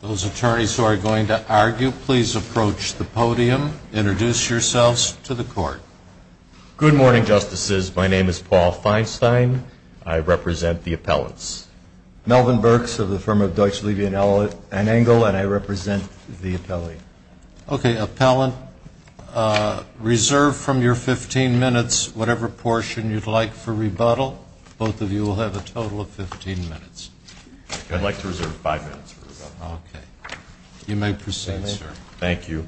Those attorneys who are going to argue, please approach the podium, introduce yourselves to the court. Good morning, Justices. My name is Paul Feinstein. I represent the appellants. Melvin Burks of the firm of Deutsch, Levy & Engel, and I represent the appellee. Okay. Appellant, reserve from your 15 minutes whatever portion you'd like for rebuttal. Both of you will have a total of 15 minutes. I'd like to reserve five minutes for rebuttal. Okay. You may proceed, sir. Thank you.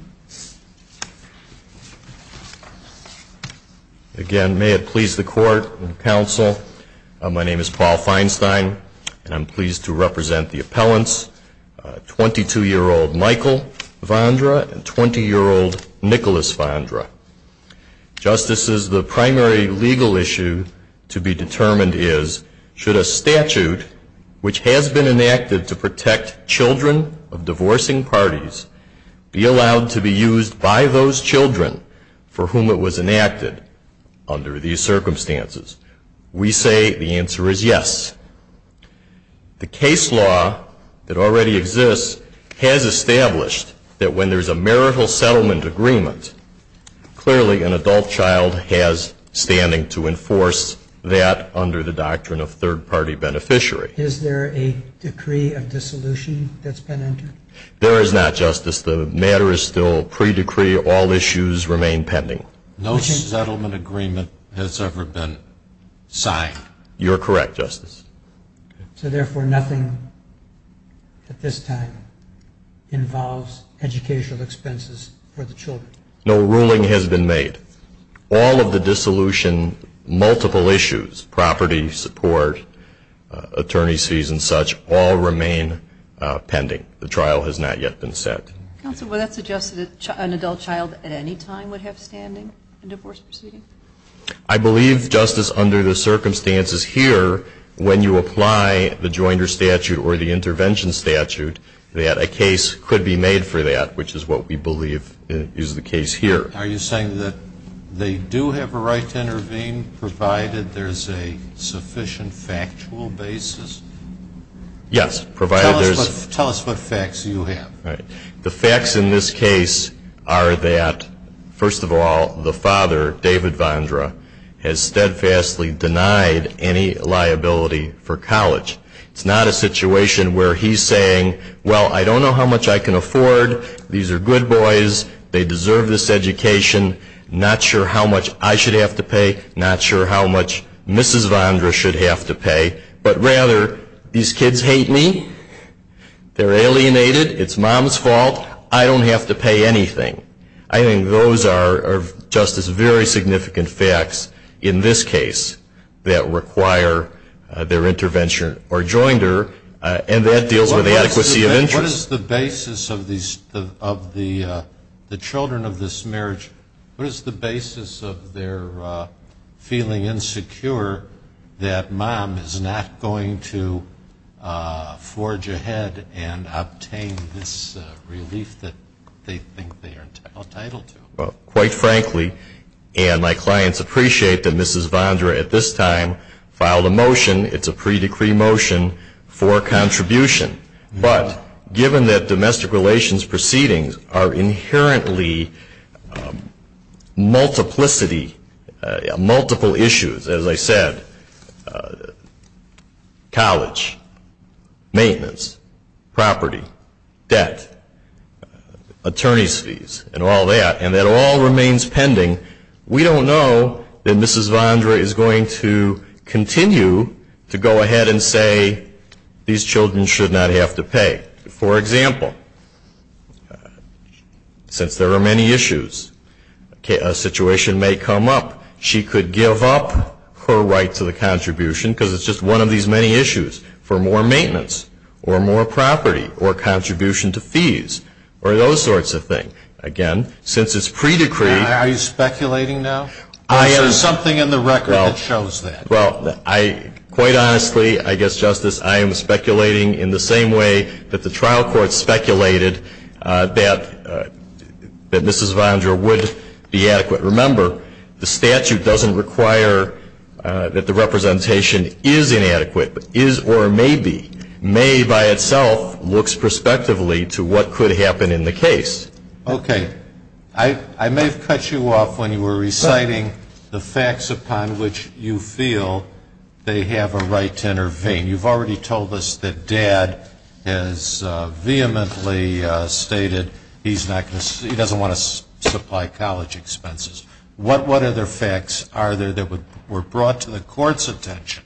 Again, may it please the court and counsel, my name is Paul Feinstein, and I'm pleased to represent the appellants. 22-year-old Michael Vondra and 20-year-old Nicholas Vondra. Justices, the primary legal issue to be determined is, should a statute which has been enacted to protect children of divorcing parties be allowed to be used by those children for whom it was enacted under these circumstances? We say the answer is yes. The case law that already exists has established that when there's a marital settlement agreement, clearly an adult child has standing to enforce that under the doctrine of third-party beneficiary. Is there a decree of dissolution that's been entered? There is not, Justice. The matter is still pre-decree. All issues remain pending. No settlement agreement has ever been signed. You're correct, Justice. So, therefore, nothing at this time involves educational expenses for the children? No ruling has been made. All of the dissolution, multiple issues, property support, attorney's fees and such, all remain pending. The trial has not yet been set. Counsel, would that suggest that an adult child at any time would have standing in divorce proceedings? I believe, Justice, under the circumstances here, when you apply the Joinder statute or the intervention statute, that a case could be made for that, which is what we believe is the case here. Are you saying that they do have a right to intervene provided there's a sufficient factual basis? Yes, provided there's... Tell us what facts you have. The facts in this case are that, first of all, the father, David Vondra, has steadfastly denied any liability for college. It's not a situation where he's saying, well, I don't know how much I can afford. These are good boys. They deserve this education. Not sure how much I should have to pay. Not sure how much Mrs. Vondra should have to pay. But rather, these kids hate me. They're alienated. It's Mom's fault. I don't have to pay anything. I think those are, Justice, very significant facts in this case that require their intervention or Joinder, and that deals with the adequacy of interest. What is the basis of the children of this marriage? What is the basis of their feeling insecure that Mom is not going to forge ahead and obtain this relief that they think they are entitled to? Well, quite frankly, and my clients appreciate that Mrs. Vondra at this time filed a motion. It's a pre-decree motion for contribution. But given that domestic relations proceedings are inherently multiplicity, multiple issues, as I said, college, maintenance, property, debt, attorney's fees, and all that, and that all remains pending, we don't know that Mrs. Vondra is going to continue to go ahead and say these children should not have to pay. For example, since there are many issues, a situation may come up, she could give up her right to the contribution because it's just one of these many issues, for more maintenance or more property or contribution to fees or those sorts of things. Again, since it's pre-decreed. Are you speculating now? There's something in the record that shows that. Well, quite honestly, I guess, Justice, I am speculating in the same way that the trial court speculated that Mrs. Vondra would be adequate. Remember, the statute doesn't require that the representation is inadequate, but is or may be. May by itself looks prospectively to what could happen in the case. Okay. I may have cut you off when you were reciting the facts upon which you feel they have a right to intervene. You've already told us that Dad has vehemently stated he doesn't want to supply college expenses. What other facts are there that were brought to the court's attention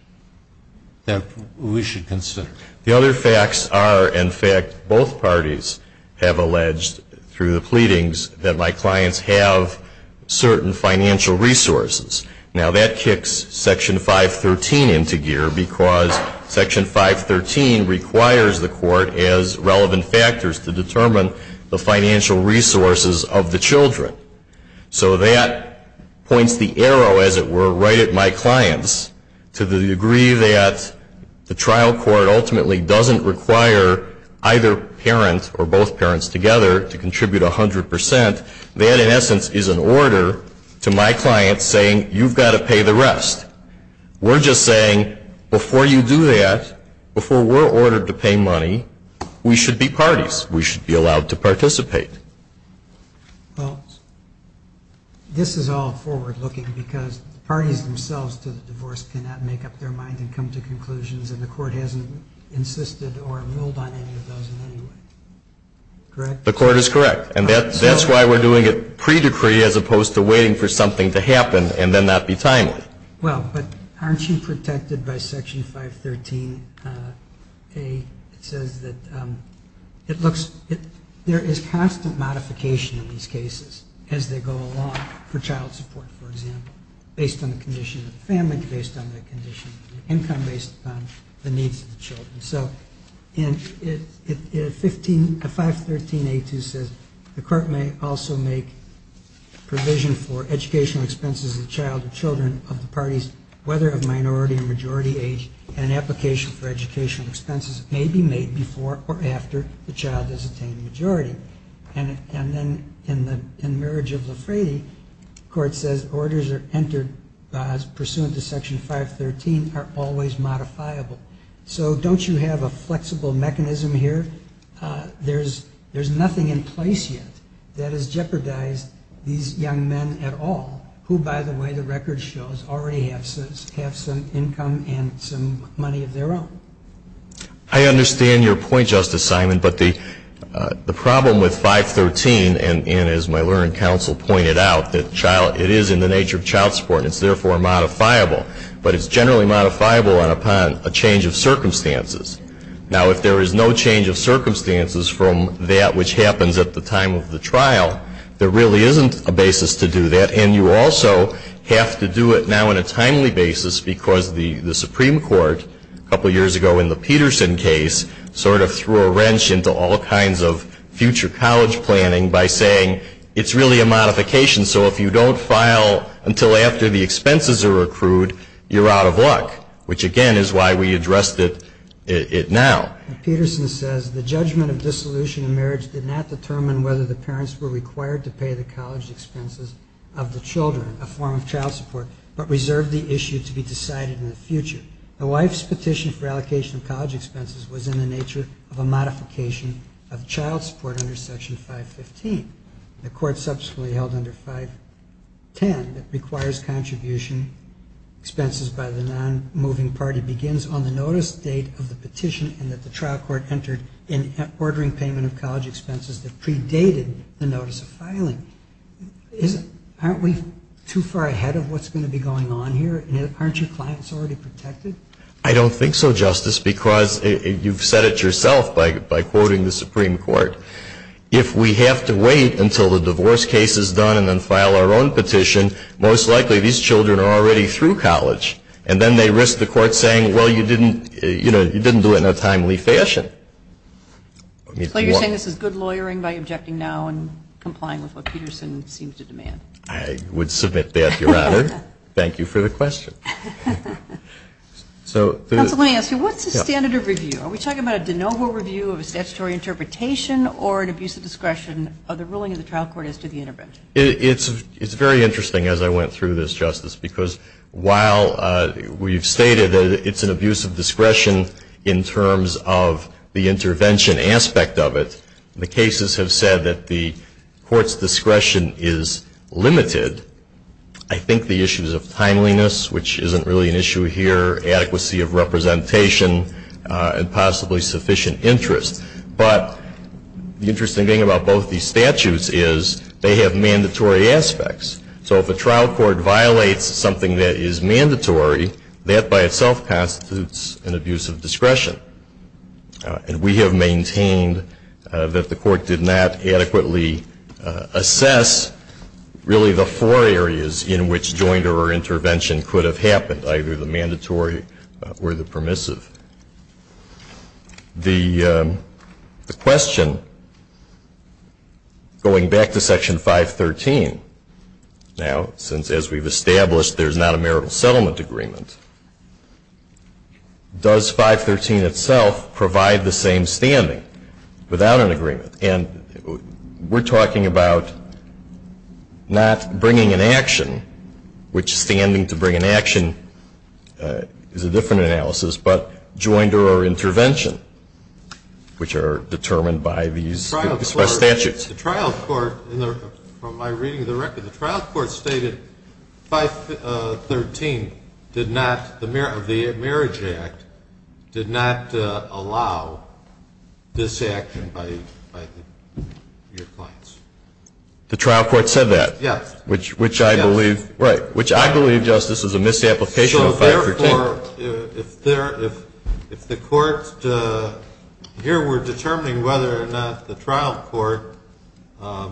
that we should consider? The other facts are, in fact, both parties have alleged through the pleadings that my clients have certain financial resources. Now, that kicks Section 513 into gear because Section 513 requires the court as relevant factors to determine the financial resources of the children. So that points the arrow, as it were, right at my clients to the degree that the trial court ultimately doesn't require either parent or both parents together to contribute 100%. That, in essence, is an order to my clients saying you've got to pay the rest. We're just saying before you do that, before we're ordered to pay money, we should be parties. We should be allowed to participate. Well, this is all forward-looking because the parties themselves to the divorce cannot make up their mind and come to conclusions, and the court hasn't insisted or ruled on any of those in any way. Correct? The court is correct. And that's why we're doing it pre-decree as opposed to waiting for something to happen and then not be timely. Well, but aren't you protected by Section 513a? It says that there is constant modification in these cases as they go along for child support, for example, based on the condition of the family, based on the condition of the income, based on the needs of the children. So 513a.2 says the court may also make provision for educational expenses of the child or children of the parties, whether of minority or majority age, and an application for educational expenses may be made before or after the child has attained majority. And then in the marriage of Lafrade, the court says orders are entered pursuant to Section 513 are always modifiable. So don't you have a flexible mechanism here? There's nothing in place yet that has jeopardized these young men at all, who, by the way, the record shows already have some income and some money of their own. I understand your point, Justice Simon. But the problem with 513, and as my lawyer and counsel pointed out, that it is in the nature of child support and it's therefore modifiable, but it's generally modifiable upon a change of circumstances. Now, if there is no change of circumstances from that which happens at the time of the trial, there really isn't a basis to do that. And you also have to do it now on a timely basis because the Supreme Court, a couple years ago in the Peterson case, sort of threw a wrench into all kinds of future college planning by saying it's really a modification. So if you don't file until after the expenses are accrued, you're out of luck, which again is why we addressed it now. Peterson says, the judgment of dissolution in marriage did not determine whether the parents were required to pay the college expenses of the children, a form of child support, but reserved the issue to be decided in the future. A wife's petition for allocation of college expenses was in the nature of a modification of child support under Section 515. The court subsequently held under 510 that requires contribution expenses by the non-moving party and that the trial court entered in ordering payment of college expenses that predated the notice of filing. Aren't we too far ahead of what's going to be going on here? Aren't your clients already protected? I don't think so, Justice, because you've said it yourself by quoting the Supreme Court. If we have to wait until the divorce case is done and then file our own petition, most likely these children are already through college. And then they risk the court saying, well, you didn't do it in a timely fashion. So you're saying this is good lawyering by objecting now and complying with what Peterson seems to demand? I would submit that, Your Honor. Thank you for the question. Counsel, let me ask you, what's the standard of review? Are we talking about a de novo review of a statutory interpretation or an abuse of discretion of the ruling of the trial court as to the intervention? It's very interesting as I went through this, Justice, because while we've stated that it's an abuse of discretion in terms of the intervention aspect of it, the cases have said that the court's discretion is limited. I think the issues of timeliness, which isn't really an issue here, adequacy of representation, and possibly sufficient interest. But the interesting thing about both these statutes is they have mandatory aspects. So if a trial court violates something that is mandatory, that by itself constitutes an abuse of discretion. And we have maintained that the court did not adequately assess really the four areas in which jointer or intervention could have happened, either the mandatory or the permissive. The question, going back to Section 513, now, since as we've established there's not a marital settlement agreement, does 513 itself provide the same standing without an agreement? And we're talking about not bringing an action, which standing to bring an action is a different analysis, but jointer or intervention, which are determined by these statutes. The trial court, from my reading of the record, the trial court stated 513 did not, the Marriage Act did not allow this action by your clients. The trial court said that? Yes. Which I believe, right, which I believe, Justice, is a misapplication of 513. If the courts here were determining whether or not the trial court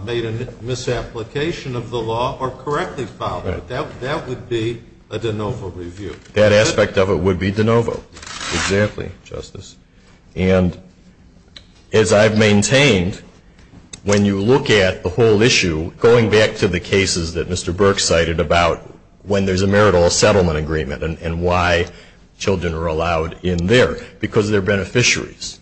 made a misapplication of the law or correctly followed it, that would be a de novo review. That aspect of it would be de novo. Exactly, Justice. And as I've maintained, when you look at the whole issue, going back to the cases that Mr. Burke cited about when there's a marital settlement agreement and why children are allowed in there, because they're beneficiaries,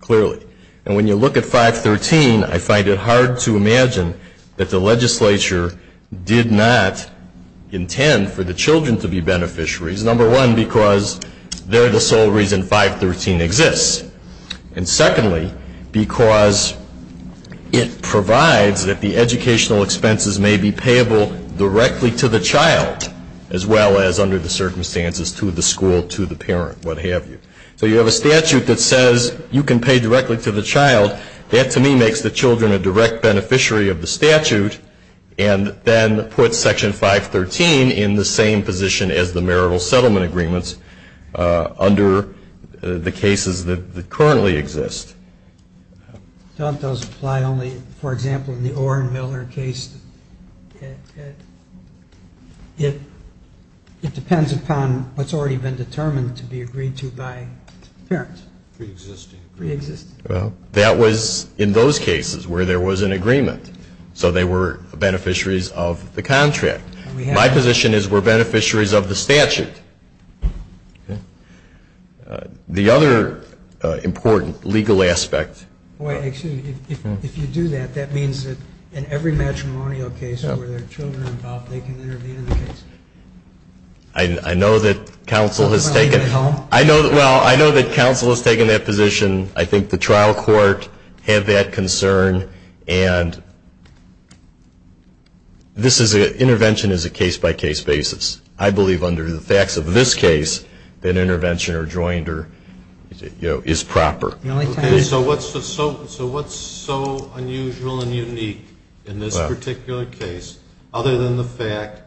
clearly. And when you look at 513, I find it hard to imagine that the legislature did not intend for the children to be beneficiaries, number one, because they're the sole reason 513 exists, and secondly, because it provides that the educational expenses may be payable directly to the child, as well as under the circumstances to the school, to the parent, what have you. So you have a statute that says you can pay directly to the child. That, to me, makes the children a direct beneficiary of the statute, and then puts Section 513 in the same position as the marital settlement agreements under the cases that currently exist. Don't those apply only, for example, in the Orenmiller case? It depends upon what's already been determined to be agreed to by parents. Pre-existing agreement. Pre-existing. Well, that was in those cases where there was an agreement. So they were beneficiaries of the contract. My position is we're beneficiaries of the statute. The other important legal aspect. If you do that, that means that in every matrimonial case where there are children involved, they can intervene in the case. I know that counsel has taken that position. I think the trial court had that concern, and intervention is a case-by-case basis. I believe under the facts of this case that intervention or joinder is proper. So what's so unusual and unique in this particular case, other than the fact,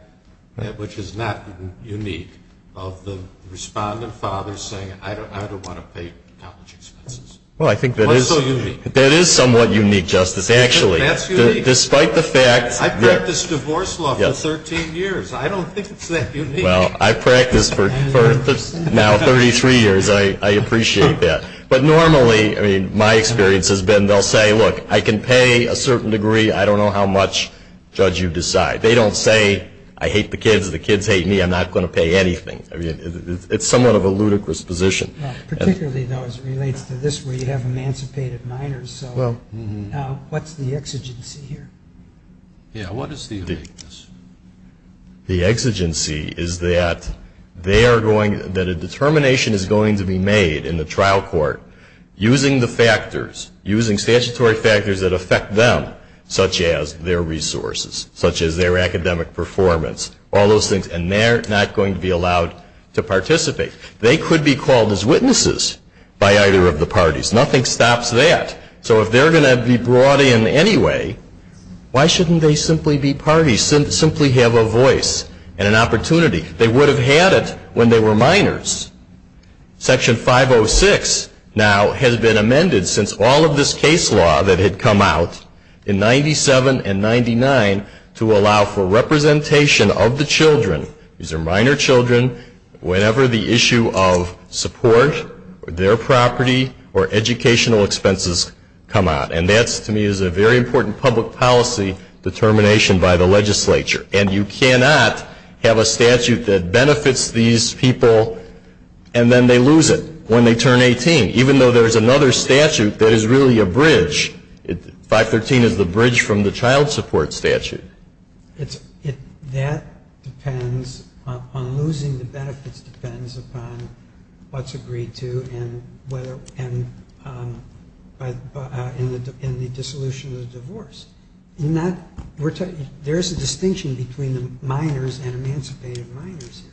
which is not unique, of the respondent father saying, I don't want to pay college expenses? Well, I think that is somewhat unique, Justice, actually. That's unique. Despite the fact. I practiced divorce law for 13 years. I don't think it's that unique. Well, I've practiced for now 33 years. I appreciate that. But normally, my experience has been they'll say, look, I can pay a certain degree. I don't know how much. Judge, you decide. They don't say, I hate the kids. The kids hate me. I'm not going to pay anything. It's somewhat of a ludicrous position. Particularly, though, as it relates to this where you have emancipated minors. So what's the exigency here? Yeah, what is the exigency? The exigency is that they are going, that a determination is going to be made in the trial court using the factors, using statutory factors that affect them, such as their resources, such as their academic performance, all those things. And they're not going to be allowed to participate. They could be called as witnesses by either of the parties. Nothing stops that. So if they're going to be brought in anyway, why shouldn't they simply be parties, simply have a voice and an opportunity? They would have had it when they were minors. Section 506 now has been amended since all of this case law that had come out in 97 and 99 to allow for representation of the children, these are minor children, whenever the issue of support, their property, or educational expenses come out. And that, to me, is a very important public policy determination by the legislature. And you cannot have a statute that benefits these people and then they lose it when they turn 18, even though there's another statute that is really a bridge. 513 is the bridge from the child support statute. That depends on losing the benefits depends upon what's agreed to and the dissolution of the divorce. There is a distinction between the minors and emancipated minors here.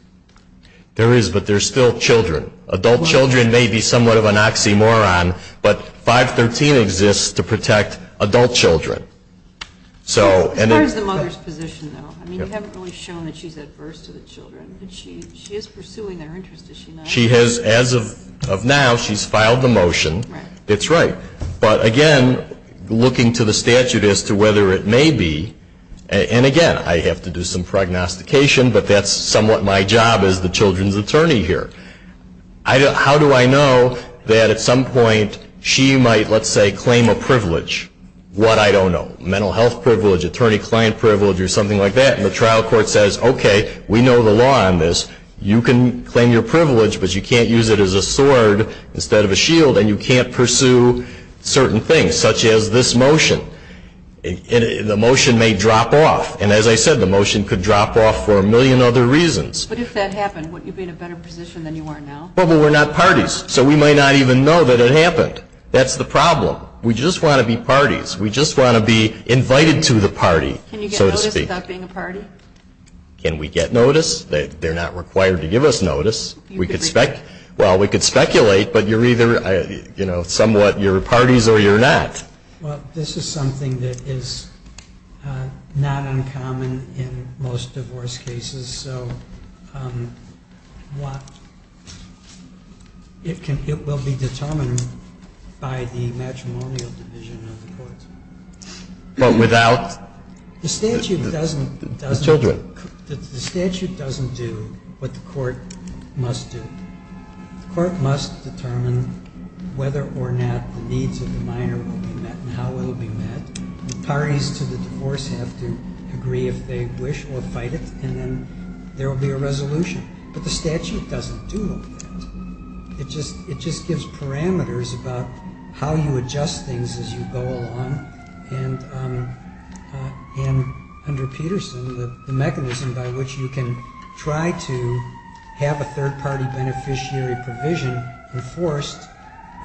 There is, but they're still children. Adult children may be somewhat of an oxymoron, but 513 exists to protect adult children. As far as the mother's position, though, you haven't really shown that she's adverse to the children, but she is pursuing their interest, is she not? As of now, she's filed the motion. That's right. But, again, looking to the statute as to whether it may be, and, again, I have to do some prognostication, but that's somewhat my job as the children's attorney here. How do I know that at some point she might, let's say, claim a privilege? What? I don't know. Mental health privilege, attorney-client privilege, or something like that, and the trial court says, okay, we know the law on this. You can claim your privilege, but you can't use it as a sword instead of a shield, and you can't pursue certain things, such as this motion. The motion may drop off, and, as I said, the motion could drop off for a million other reasons. But if that happened, wouldn't you be in a better position than you are now? Well, but we're not parties, so we might not even know that it happened. That's the problem. We just want to be parties. We just want to be invited to the party, so to speak. Can you get notice without being a party? Can we get notice? They're not required to give us notice. Well, we could speculate, but you're either somewhat, you're parties or you're not. Well, this is something that is not uncommon in most divorce cases. So it will be determined by the matrimonial division of the court. But without? The statute doesn't do what the court must do. The court must determine whether or not the needs of the minor will be met and how it will be met. The parties to the divorce have to agree if they wish or fight it, and then there will be a resolution. But the statute doesn't do that. It just gives parameters about how you adjust things as you go along. And under Peterson, the mechanism by which you can try to have a third-party beneficiary provision enforced,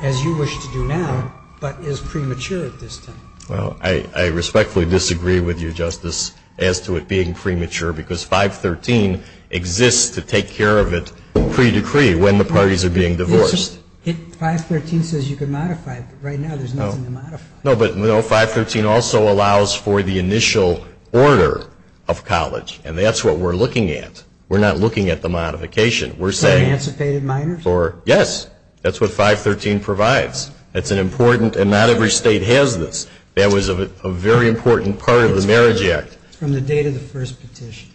as you wish to do now, but is premature at this time. Well, I respectfully disagree with you, Justice, as to it being premature because 513 exists to take care of it pre-decree when the parties are being divorced. 513 says you can modify it, but right now there's nothing to modify. No, but 513 also allows for the initial order of college, and that's what we're looking at. We're not looking at the modification. For emancipated minors? Yes, that's what 513 provides. It's an important, and not every state has this. That was a very important part of the Marriage Act. From the date of the first petition.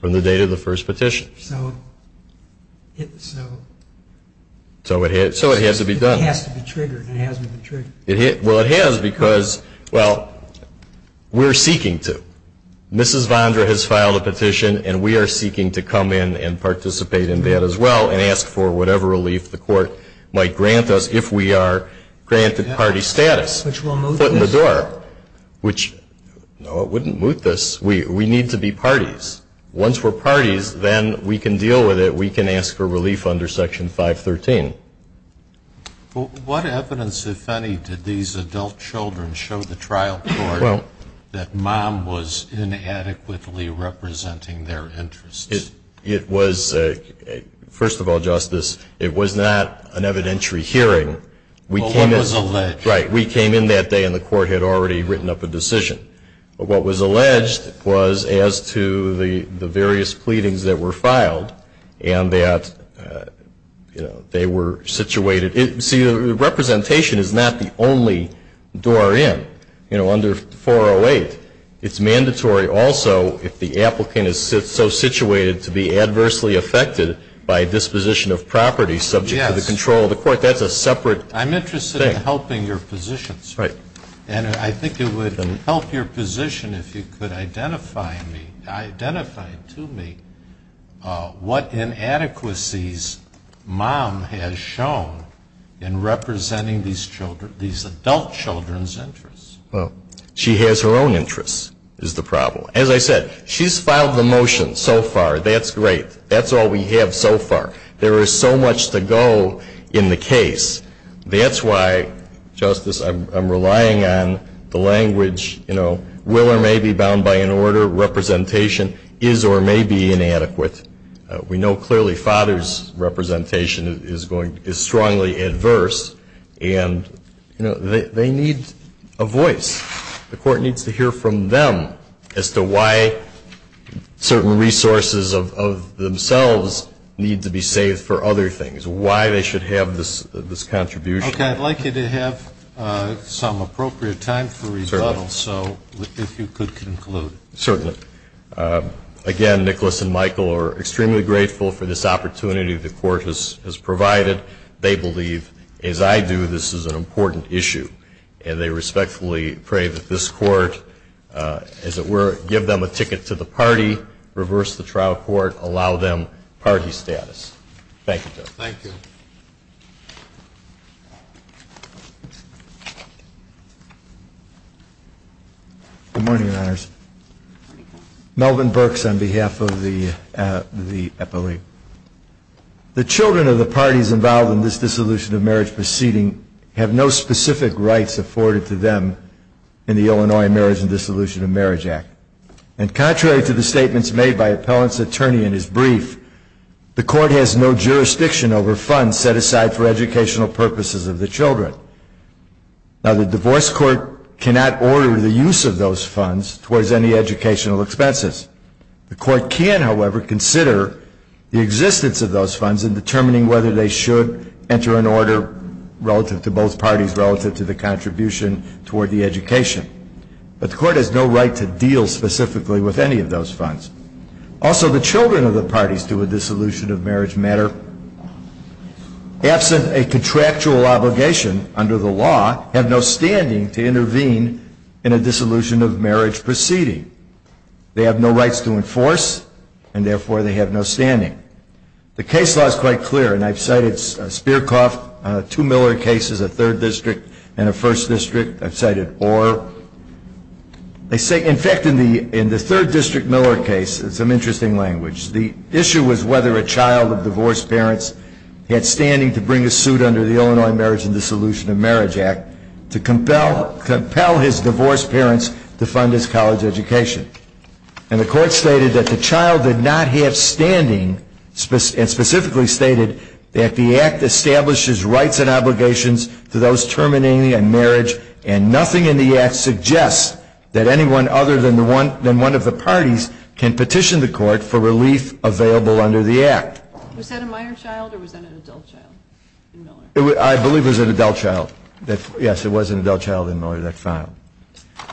From the date of the first petition. So it has to be done. It has to be triggered, and it hasn't been triggered. Well, it has because, well, we're seeking to. Mrs. Vondra has filed a petition, and we are seeking to come in and participate in that as well and ask for whatever relief the court might grant us if we are granted party status. Which will moot this. Foot in the door. No, it wouldn't moot this. We need to be parties. Once we're parties, then we can deal with it. We can ask for relief under Section 513. What evidence, if any, did these adult children show the trial court that mom was inadequately representing their interests? It was, first of all, Justice, it was not an evidentiary hearing. Well, it was alleged. Right. We came in that day and the court had already written up a decision. What was alleged was as to the various pleadings that were filed and that they were situated. See, the representation is not the only door in. You know, under 408, it's mandatory also if the applicant is so situated to be adversely affected by disposition of property subject to the control of the court. Yes. That's a separate thing. It's not helping your position, sir. Right. And I think it would help your position if you could identify to me what inadequacies mom has shown in representing these adult children's interests. Well, she has her own interests is the problem. As I said, she's filed the motion so far. That's great. That's all we have so far. There is so much to go in the case. That's why, Justice, I'm relying on the language, you know, will or may be bound by an order. Representation is or may be inadequate. We know clearly father's representation is strongly adverse. And, you know, they need a voice. The court needs to hear from them as to why certain resources of themselves need to be saved for other things, why they should have this contribution. Okay. I'd like you to have some appropriate time for rebuttal. Certainly. So if you could conclude. Certainly. Again, Nicholas and Michael are extremely grateful for this opportunity the court has provided. They believe, as I do, this is an important issue. And they respectfully pray that this court, as it were, give them a ticket to the party, reverse the trial court, allow them party status. Thank you. Thank you. Good morning, Your Honors. Melvin Burks on behalf of the epilogue. The children of the parties involved in this dissolution of marriage proceeding have no specific rights afforded to them in the Illinois Marriage and Dissolution of Marriage Act. And contrary to the statements made by appellant's attorney in his brief, the court has no jurisdiction over funds set aside for educational purposes of the children. Now, the divorce court cannot order the use of those funds towards any educational expenses. The court can, however, consider the existence of those funds in determining whether they should enter an order relative to both parties, relative to the contribution toward the education. But the court has no right to deal specifically with any of those funds. Also, the children of the parties to a dissolution of marriage matter, absent a contractual obligation under the law, have no standing to intervene in a dissolution of marriage proceeding. They have no rights to enforce, and therefore they have no standing. The case law is quite clear, and I've cited Spierkoff, two Miller cases, a third district, and a first district. I've cited Orr. In fact, in the third district Miller case, in some interesting language, the issue was whether a child of divorced parents had standing to bring a suit under the Illinois Marriage and Dissolution of Marriage Act to compel his divorced parents to fund his college education. And the court stated that the child did not have standing, and specifically stated that the act establishes rights and obligations to those terminating a marriage, and nothing in the act suggests that anyone other than one of the parties can petition the court for relief available under the act. Was that a minor child, or was that an adult child in Miller? I believe it was an adult child. Yes, it was an adult child in Miller that filed.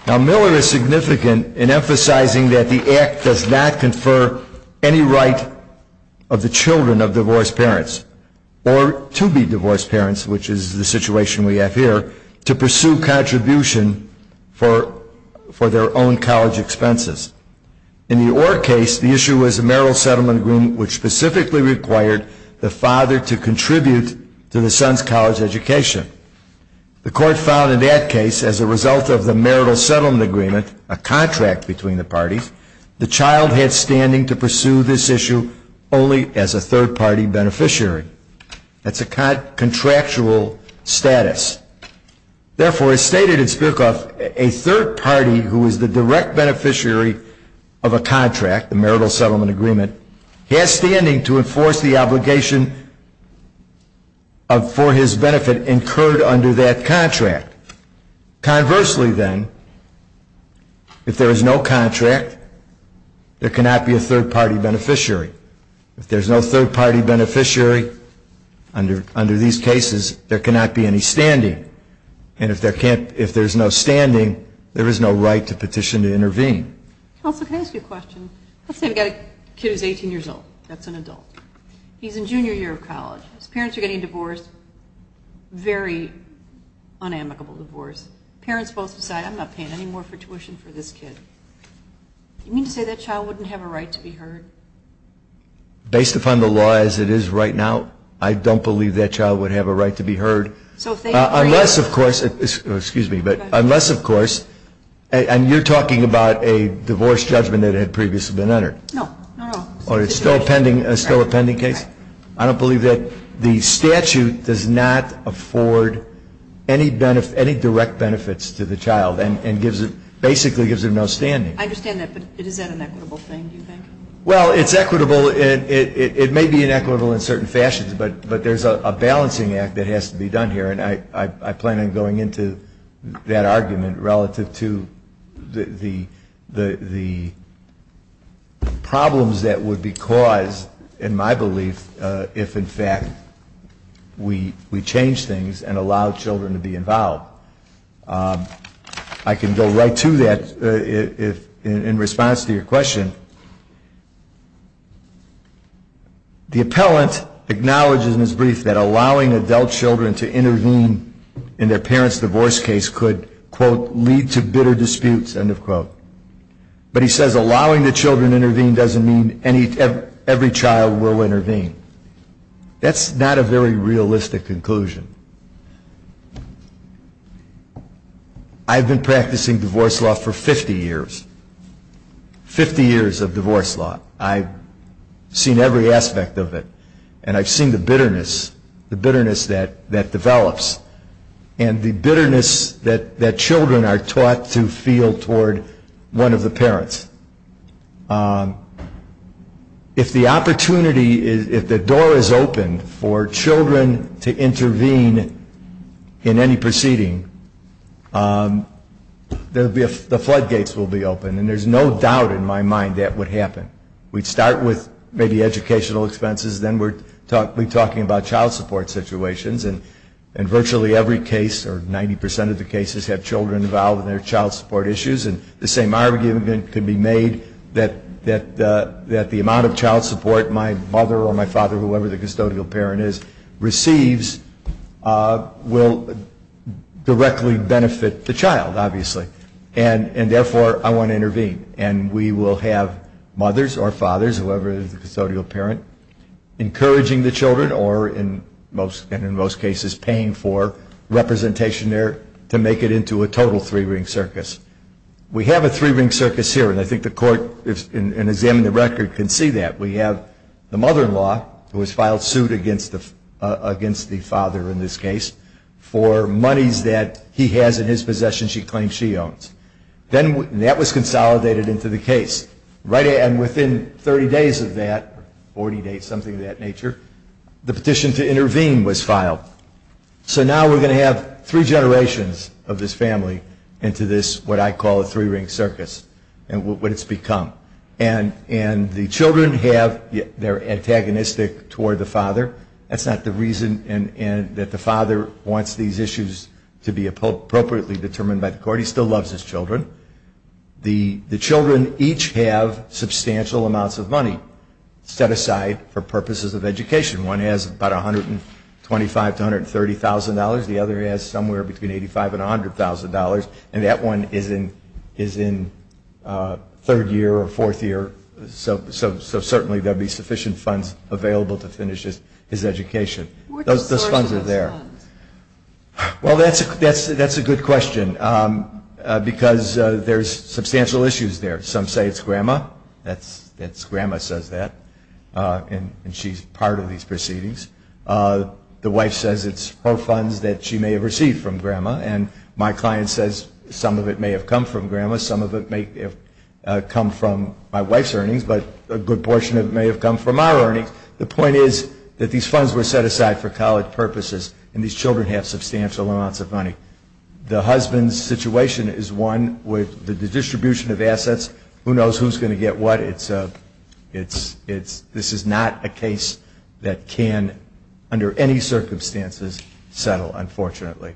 Now, Miller is significant in emphasizing that the act does not confer any right of the children of divorced parents, or to be divorced parents, which is the situation we have here, to pursue contribution for their own college expenses. In the Orr case, the issue was a marital settlement agreement which specifically required the father to contribute to the son's college education. The court found in that case, as a result of the marital settlement agreement, a contract between the parties, the child had standing to pursue this issue only as a third-party beneficiary. That's a contractual status. Therefore, as stated in Spirokov, a third party who is the direct beneficiary of a contract, the marital settlement agreement, has standing to enforce the obligation for his benefit incurred under that contract. Conversely, then, if there is no contract, there cannot be a third-party beneficiary. If there's no third-party beneficiary under these cases, there cannot be any standing. And if there's no standing, there is no right to petition to intervene. Counsel, can I ask you a question? Let's say we've got a kid who's 18 years old. That's an adult. He's in junior year of college. His parents are getting divorced. Very unamicable divorce. Parents both decide, I'm not paying any more for tuition for this kid. You mean to say that child wouldn't have a right to be heard? Based upon the law as it is right now, I don't believe that child would have a right to be heard. Unless, of course, and you're talking about a divorce judgment that had previously been entered? No. Or it's still a pending case? I don't believe that. The statute does not afford any direct benefits to the child and basically gives them no standing. I understand that, but is that an equitable thing, do you think? Well, it's equitable. It may be inequitable in certain fashions, but there's a balancing act that has to be done here, and I plan on going into that argument relative to the problems that would be caused, in my belief, if, in fact, we change things and allow children to be involved. I can go right to that in response to your question. The appellant acknowledges in his brief that allowing adult children to intervene in their parents' divorce case could, quote, lead to bitter disputes, end of quote. But he says allowing the children to intervene doesn't mean every child will intervene. That's not a very realistic conclusion. I've been practicing divorce law for 50 years, 50 years of divorce law. I've seen every aspect of it, and I've seen the bitterness that develops and the bitterness that children are taught to feel toward one of the parents. If the opportunity, if the door is open for children to intervene in any proceeding, the floodgates will be open, and there's no doubt in my mind that would happen. We'd start with maybe educational expenses, then we'd be talking about child support situations, and virtually every case, or 90% of the cases, have children involved in their child support issues, and the same argument can be made that the amount of child support my mother or my father, whoever the custodial parent is, receives will directly benefit the child, obviously. And therefore, I want to intervene, and we will have mothers or fathers, whoever the custodial parent, encouraging the children or, in most cases, paying for representation there to make it into a total three-ring circus. We have a three-ring circus here, and I think the court, in examining the record, can see that. We have the mother-in-law, who has filed suit against the father in this case for monies that he has in his possession she claims she owns. That was consolidated into the case, and within 30 days of that, 40 days, something of that nature, the petition to intervene was filed. So now we're going to have three generations of this family into this, what I call a three-ring circus, and what it's become. And the children have, they're antagonistic toward the father. That's not the reason that the father wants these issues to be appropriately determined by the court. He still loves his children. The children each have substantial amounts of money set aside for purposes of education. One has about $125,000 to $130,000. The other has somewhere between $85,000 and $100,000. And that one is in third year or fourth year, so certainly there will be sufficient funds available to finish his education. What's the source of those funds? Well, that's a good question, because there's substantial issues there. Some say it's grandma. Grandma says that, and she's part of these proceedings. The wife says it's her funds that she may have received from grandma, and my client says some of it may have come from grandma, some of it may have come from my wife's earnings, but a good portion of it may have come from our earnings. The point is that these funds were set aside for college purposes, and these children have substantial amounts of money. The husband's situation is one with the distribution of assets. Who knows who's going to get what? This is not a case that can, under any circumstances, settle, unfortunately.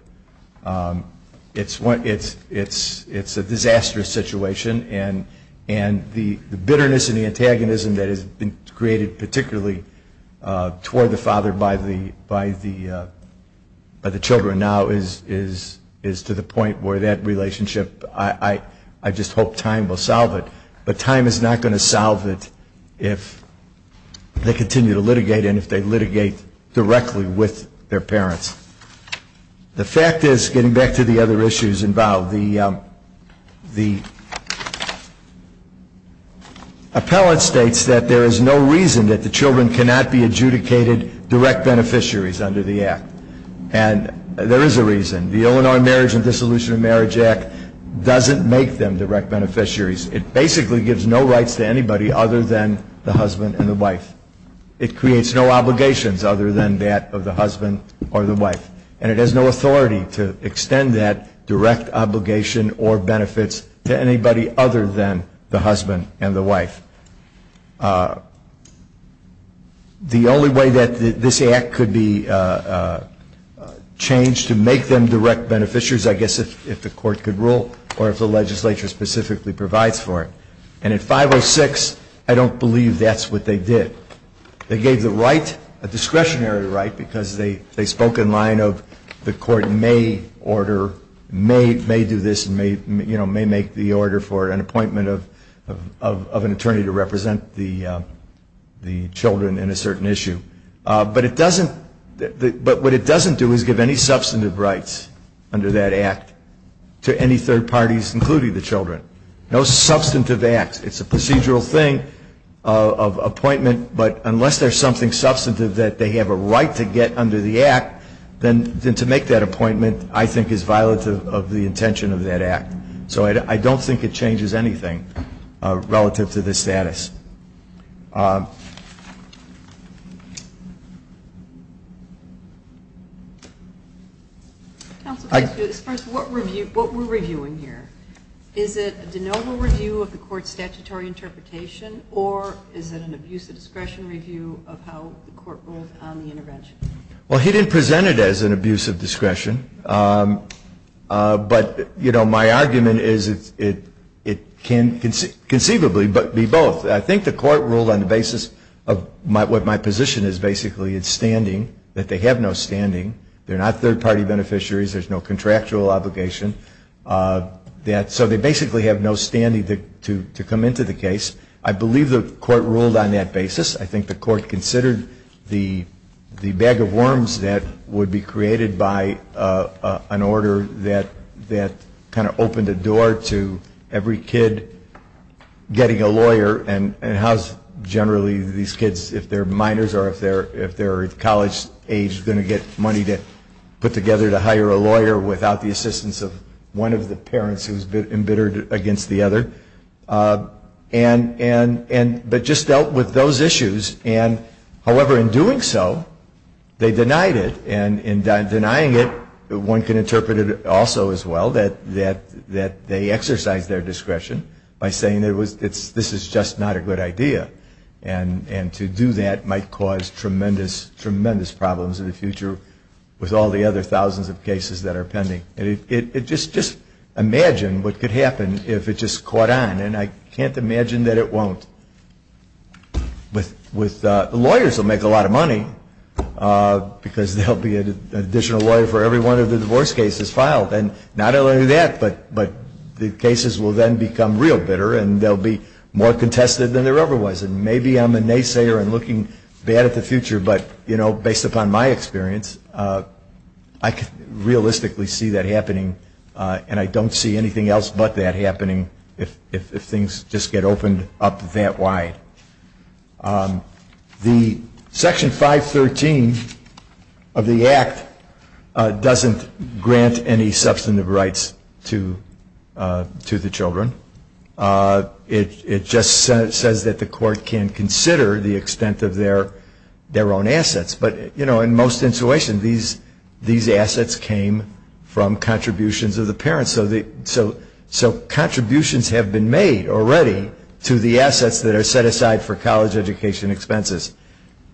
It's a disastrous situation, and the bitterness and the antagonism that has been created particularly toward the father by the children now is to the point where that relationship, I just hope time will solve it, but time is not going to solve it if they continue to litigate and if they litigate directly with their parents. The fact is, getting back to the other issues involved, the appellate states that there is no reason that the children cannot be adjudicated direct beneficiaries under the Act, and there is a reason. The Illinois Marriage and Dissolution of Marriage Act doesn't make them direct beneficiaries. It basically gives no rights to anybody other than the husband and the wife. It creates no obligations other than that of the husband or the wife, and it has no authority to extend that direct obligation or benefits to anybody other than the husband and the wife. The only way that this Act could be changed to make them direct beneficiaries, I guess, is if the court could rule or if the legislature specifically provides for it, and in 506, I don't believe that's what they did. They gave the right, a discretionary right, because they spoke in line of the court may order, may do this, may make the order for an appointment of an attorney to represent the children in a certain issue. But what it doesn't do is give any substantive rights under that Act to any third parties, including the children. No substantive acts. It's a procedural thing of appointment, but unless there's something substantive that they have a right to get under the Act, then to make that appointment, I think, is violative of the intention of that Act. So I don't think it changes anything relative to the status. Counsel, what we're reviewing here, is it a de novo review of the court's statutory interpretation or is it an abuse of discretion review of how the court rules on the intervention? Well, he didn't present it as an abuse of discretion. But, you know, my argument is it can conceivably be both. I think the court ruled on the basis of what my position is, basically, it's standing, that they have no standing. They're not third party beneficiaries. There's no contractual obligation. So they basically have no standing to come into the case. I believe the court ruled on that basis. I think the court considered the bag of worms that would be created by an order that kind of opened a door to every kid getting a lawyer and how generally these kids, if they're minors or if they're college age, are going to get money to put together to hire a lawyer without the assistance of one of the parents who's been embittered against the other. But just dealt with those issues. However, in doing so, they denied it. And in denying it, one can interpret it also as well, that they exercised their discretion by saying this is just not a good idea. And to do that might cause tremendous, tremendous problems in the future with all the other thousands of cases that are pending. Just imagine what could happen if it just caught on. And I can't imagine that it won't. Lawyers will make a lot of money because they'll be an additional lawyer for every one of the divorce cases filed. And not only that, but the cases will then become real bitter and they'll be more contested than there ever was. And maybe I'm a naysayer and looking bad at the future, but based upon my experience, I realistically see that happening. And I don't see anything else but that happening if things just get opened up that wide. Section 513 of the Act doesn't grant any substantive rights to the children. It just says that the court can consider the extent of their own assets. But, you know, in most situations, these assets came from contributions of the parents. So contributions have been made already to the assets that are set aside for college education expenses.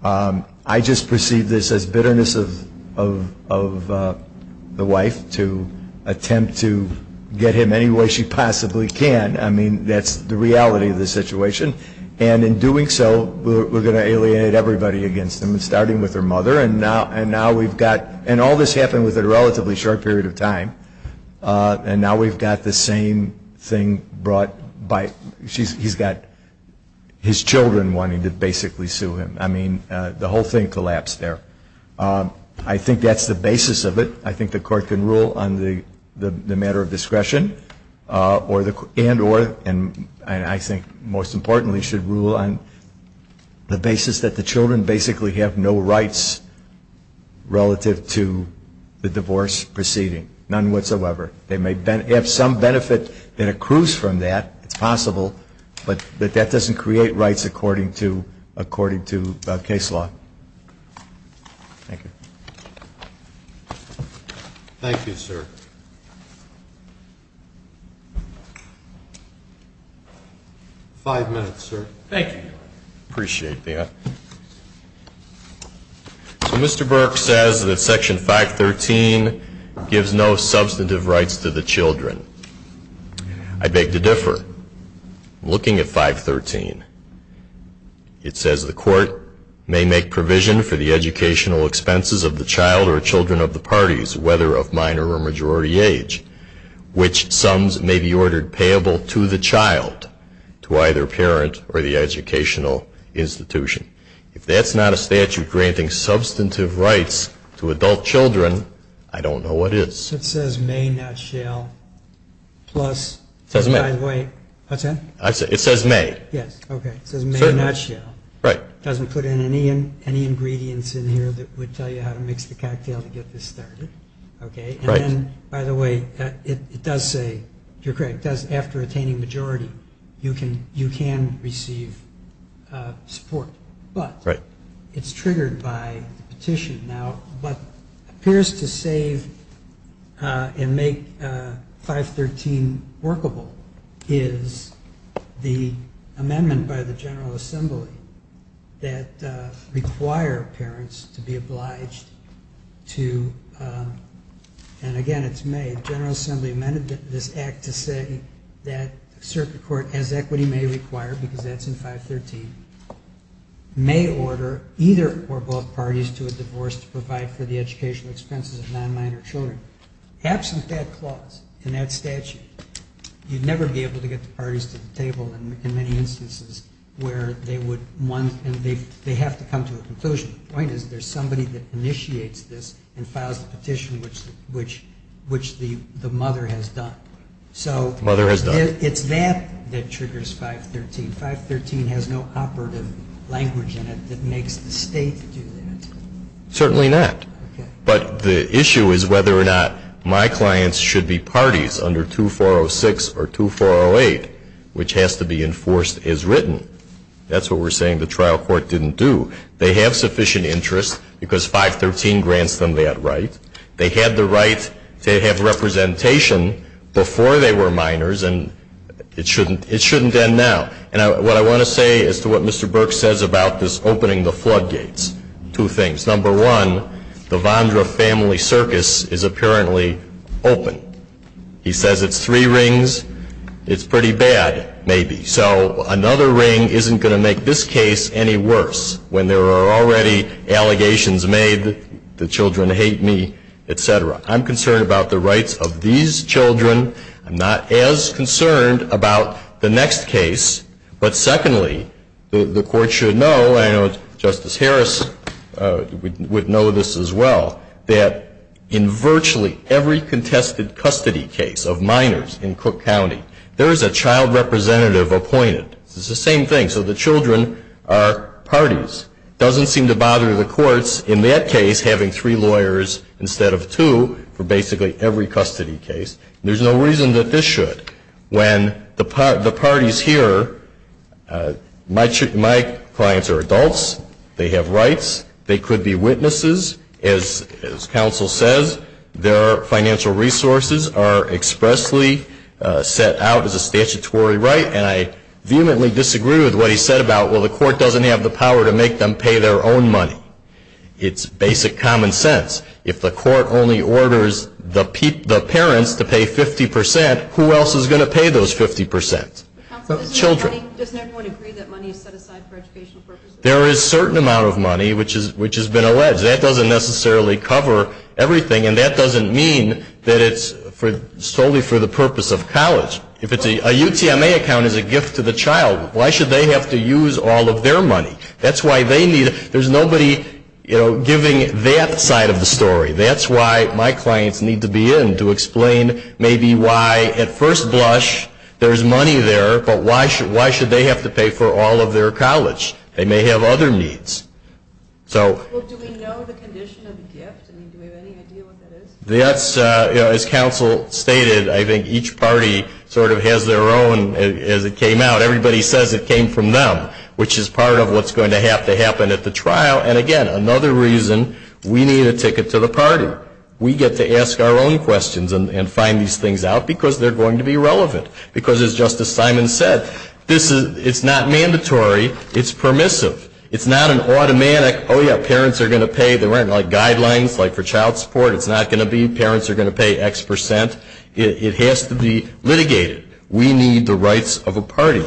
I just perceive this as bitterness of the wife to attempt to get him any way she possibly can. I mean, that's the reality of the situation. And in doing so, we're going to alienate everybody against him, starting with her mother. And now we've got – and all this happened within a relatively short period of time. And now we've got the same thing brought by – he's got his children wanting to basically sue him. I mean, the whole thing collapsed there. I think that's the basis of it. I think the court can rule on the matter of discretion and or, and I think most importantly, should rule on the basis that the children basically have no rights relative to the divorce proceeding. None whatsoever. They may have some benefit that accrues from that. It's possible. But that doesn't create rights according to case law. Thank you. Thank you, sir. Five minutes, sir. Thank you. Appreciate that. So Mr. Burke says that Section 513 gives no substantive rights to the children. I beg to differ. Looking at 513, it says the court may make provision for the educational expenses of the child or children of the parties, whether of minor or majority age, which sums may be ordered payable to the child, to either parent or the educational institution. If that's not a statute granting substantive rights to adult children, I don't know what is. It says may not shall plus – It says may. What's that? It says may. Yes. Okay. It says may not shall. Right. It doesn't put in any ingredients in here that would tell you how to mix the cocktail to get this started. Okay. And then, by the way, it does say, you're correct, after attaining majority, you can receive support. But it's triggered by the petition. Now what appears to save and make 513 workable is the amendment by the General Assembly that require parents to be obliged to – and, again, it's may. General Assembly amended this act to say that circuit court, as equity may require, because that's in 513, may order either or both parties to a divorce to provide for the educational expenses of non-minor children. Absent that clause in that statute, you'd never be able to get the parties to the table in many instances where they would want – and they have to come to a conclusion. The point is there's somebody that initiates this and files the petition, which the mother has done. So it's that that triggers 513. 513 has no operative language in it that makes the state do that. Certainly not. But the issue is whether or not my clients should be parties under 2406 or 2408, which has to be enforced as written. That's what we're saying the trial court didn't do. They have sufficient interest because 513 grants them that right. They had the right to have representation before they were minors, and it shouldn't end now. And what I want to say as to what Mr. Burke says about this opening the floodgates, two things. Number one, the Vondra family circus is apparently open. He says it's three rings. It's pretty bad, maybe. So another ring isn't going to make this case any worse when there are already allegations made, the children hate me, et cetera. I'm concerned about the rights of these children. I'm not as concerned about the next case. But secondly, the court should know, and I know Justice Harris would know this as well, that in virtually every contested custody case of minors in Cook County, there is a child representative appointed. It's the same thing. So the children are parties. It doesn't seem to bother the courts in that case having three lawyers instead of two for basically every custody case. There's no reason that this should. When the party is here, my clients are adults. They have rights. They could be witnesses. As counsel says, their financial resources are expressly set out as a statutory right, and I vehemently disagree with what he said about, well, the court doesn't have the power to make them pay their own money. It's basic common sense. If the court only orders the parents to pay 50%, who else is going to pay those 50%? Children. Counsel, doesn't everyone agree that money is set aside for educational purposes? There is a certain amount of money, which has been alleged. That doesn't necessarily cover everything, and that doesn't mean that it's solely for the purpose of college. A UTMA account is a gift to the child. Why should they have to use all of their money? That's why they need it. There's nobody giving that side of the story. That's why my clients need to be in, to explain maybe why at first blush there's money there, but why should they have to pay for all of their college? They may have other needs. Do we know the condition of the gift? Do we have any idea what that is? As counsel stated, I think each party sort of has their own. As it came out, everybody says it came from them, which is part of what's going to have to happen at the trial. And, again, another reason we need a ticket to the party. We get to ask our own questions and find these things out because they're going to be relevant. Because, as Justice Simon said, it's not mandatory. It's permissive. It's not an automatic, oh, yeah, parents are going to pay. There weren't guidelines for child support. It's not going to be parents are going to pay X percent. It has to be litigated. We need the rights of a party.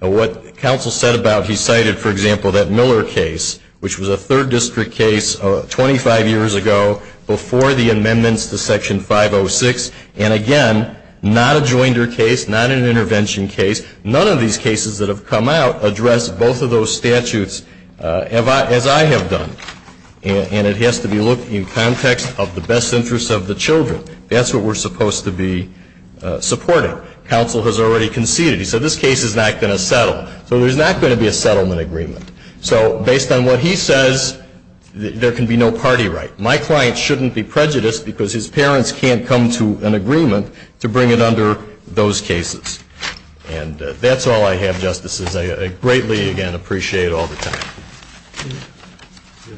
What counsel said about, he cited, for example, that Miller case, which was a third district case 25 years ago before the amendments to Section 506. And, again, not a joinder case, not an intervention case. None of these cases that have come out address both of those statutes as I have done. And it has to be looked at in context of the best interests of the children. That's what we're supposed to be supporting. Counsel has already conceded. He said this case is not going to settle. So there's not going to be a settlement agreement. So based on what he says, there can be no party right. My client shouldn't be prejudiced because his parents can't come to an agreement to bring it under those cases. And that's all I have, Justices. I greatly, again, appreciate all the time. Thank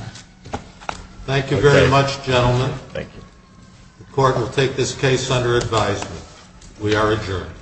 you. Thank you very much, gentlemen. Thank you. The court will take this case under advisement. We are adjourned.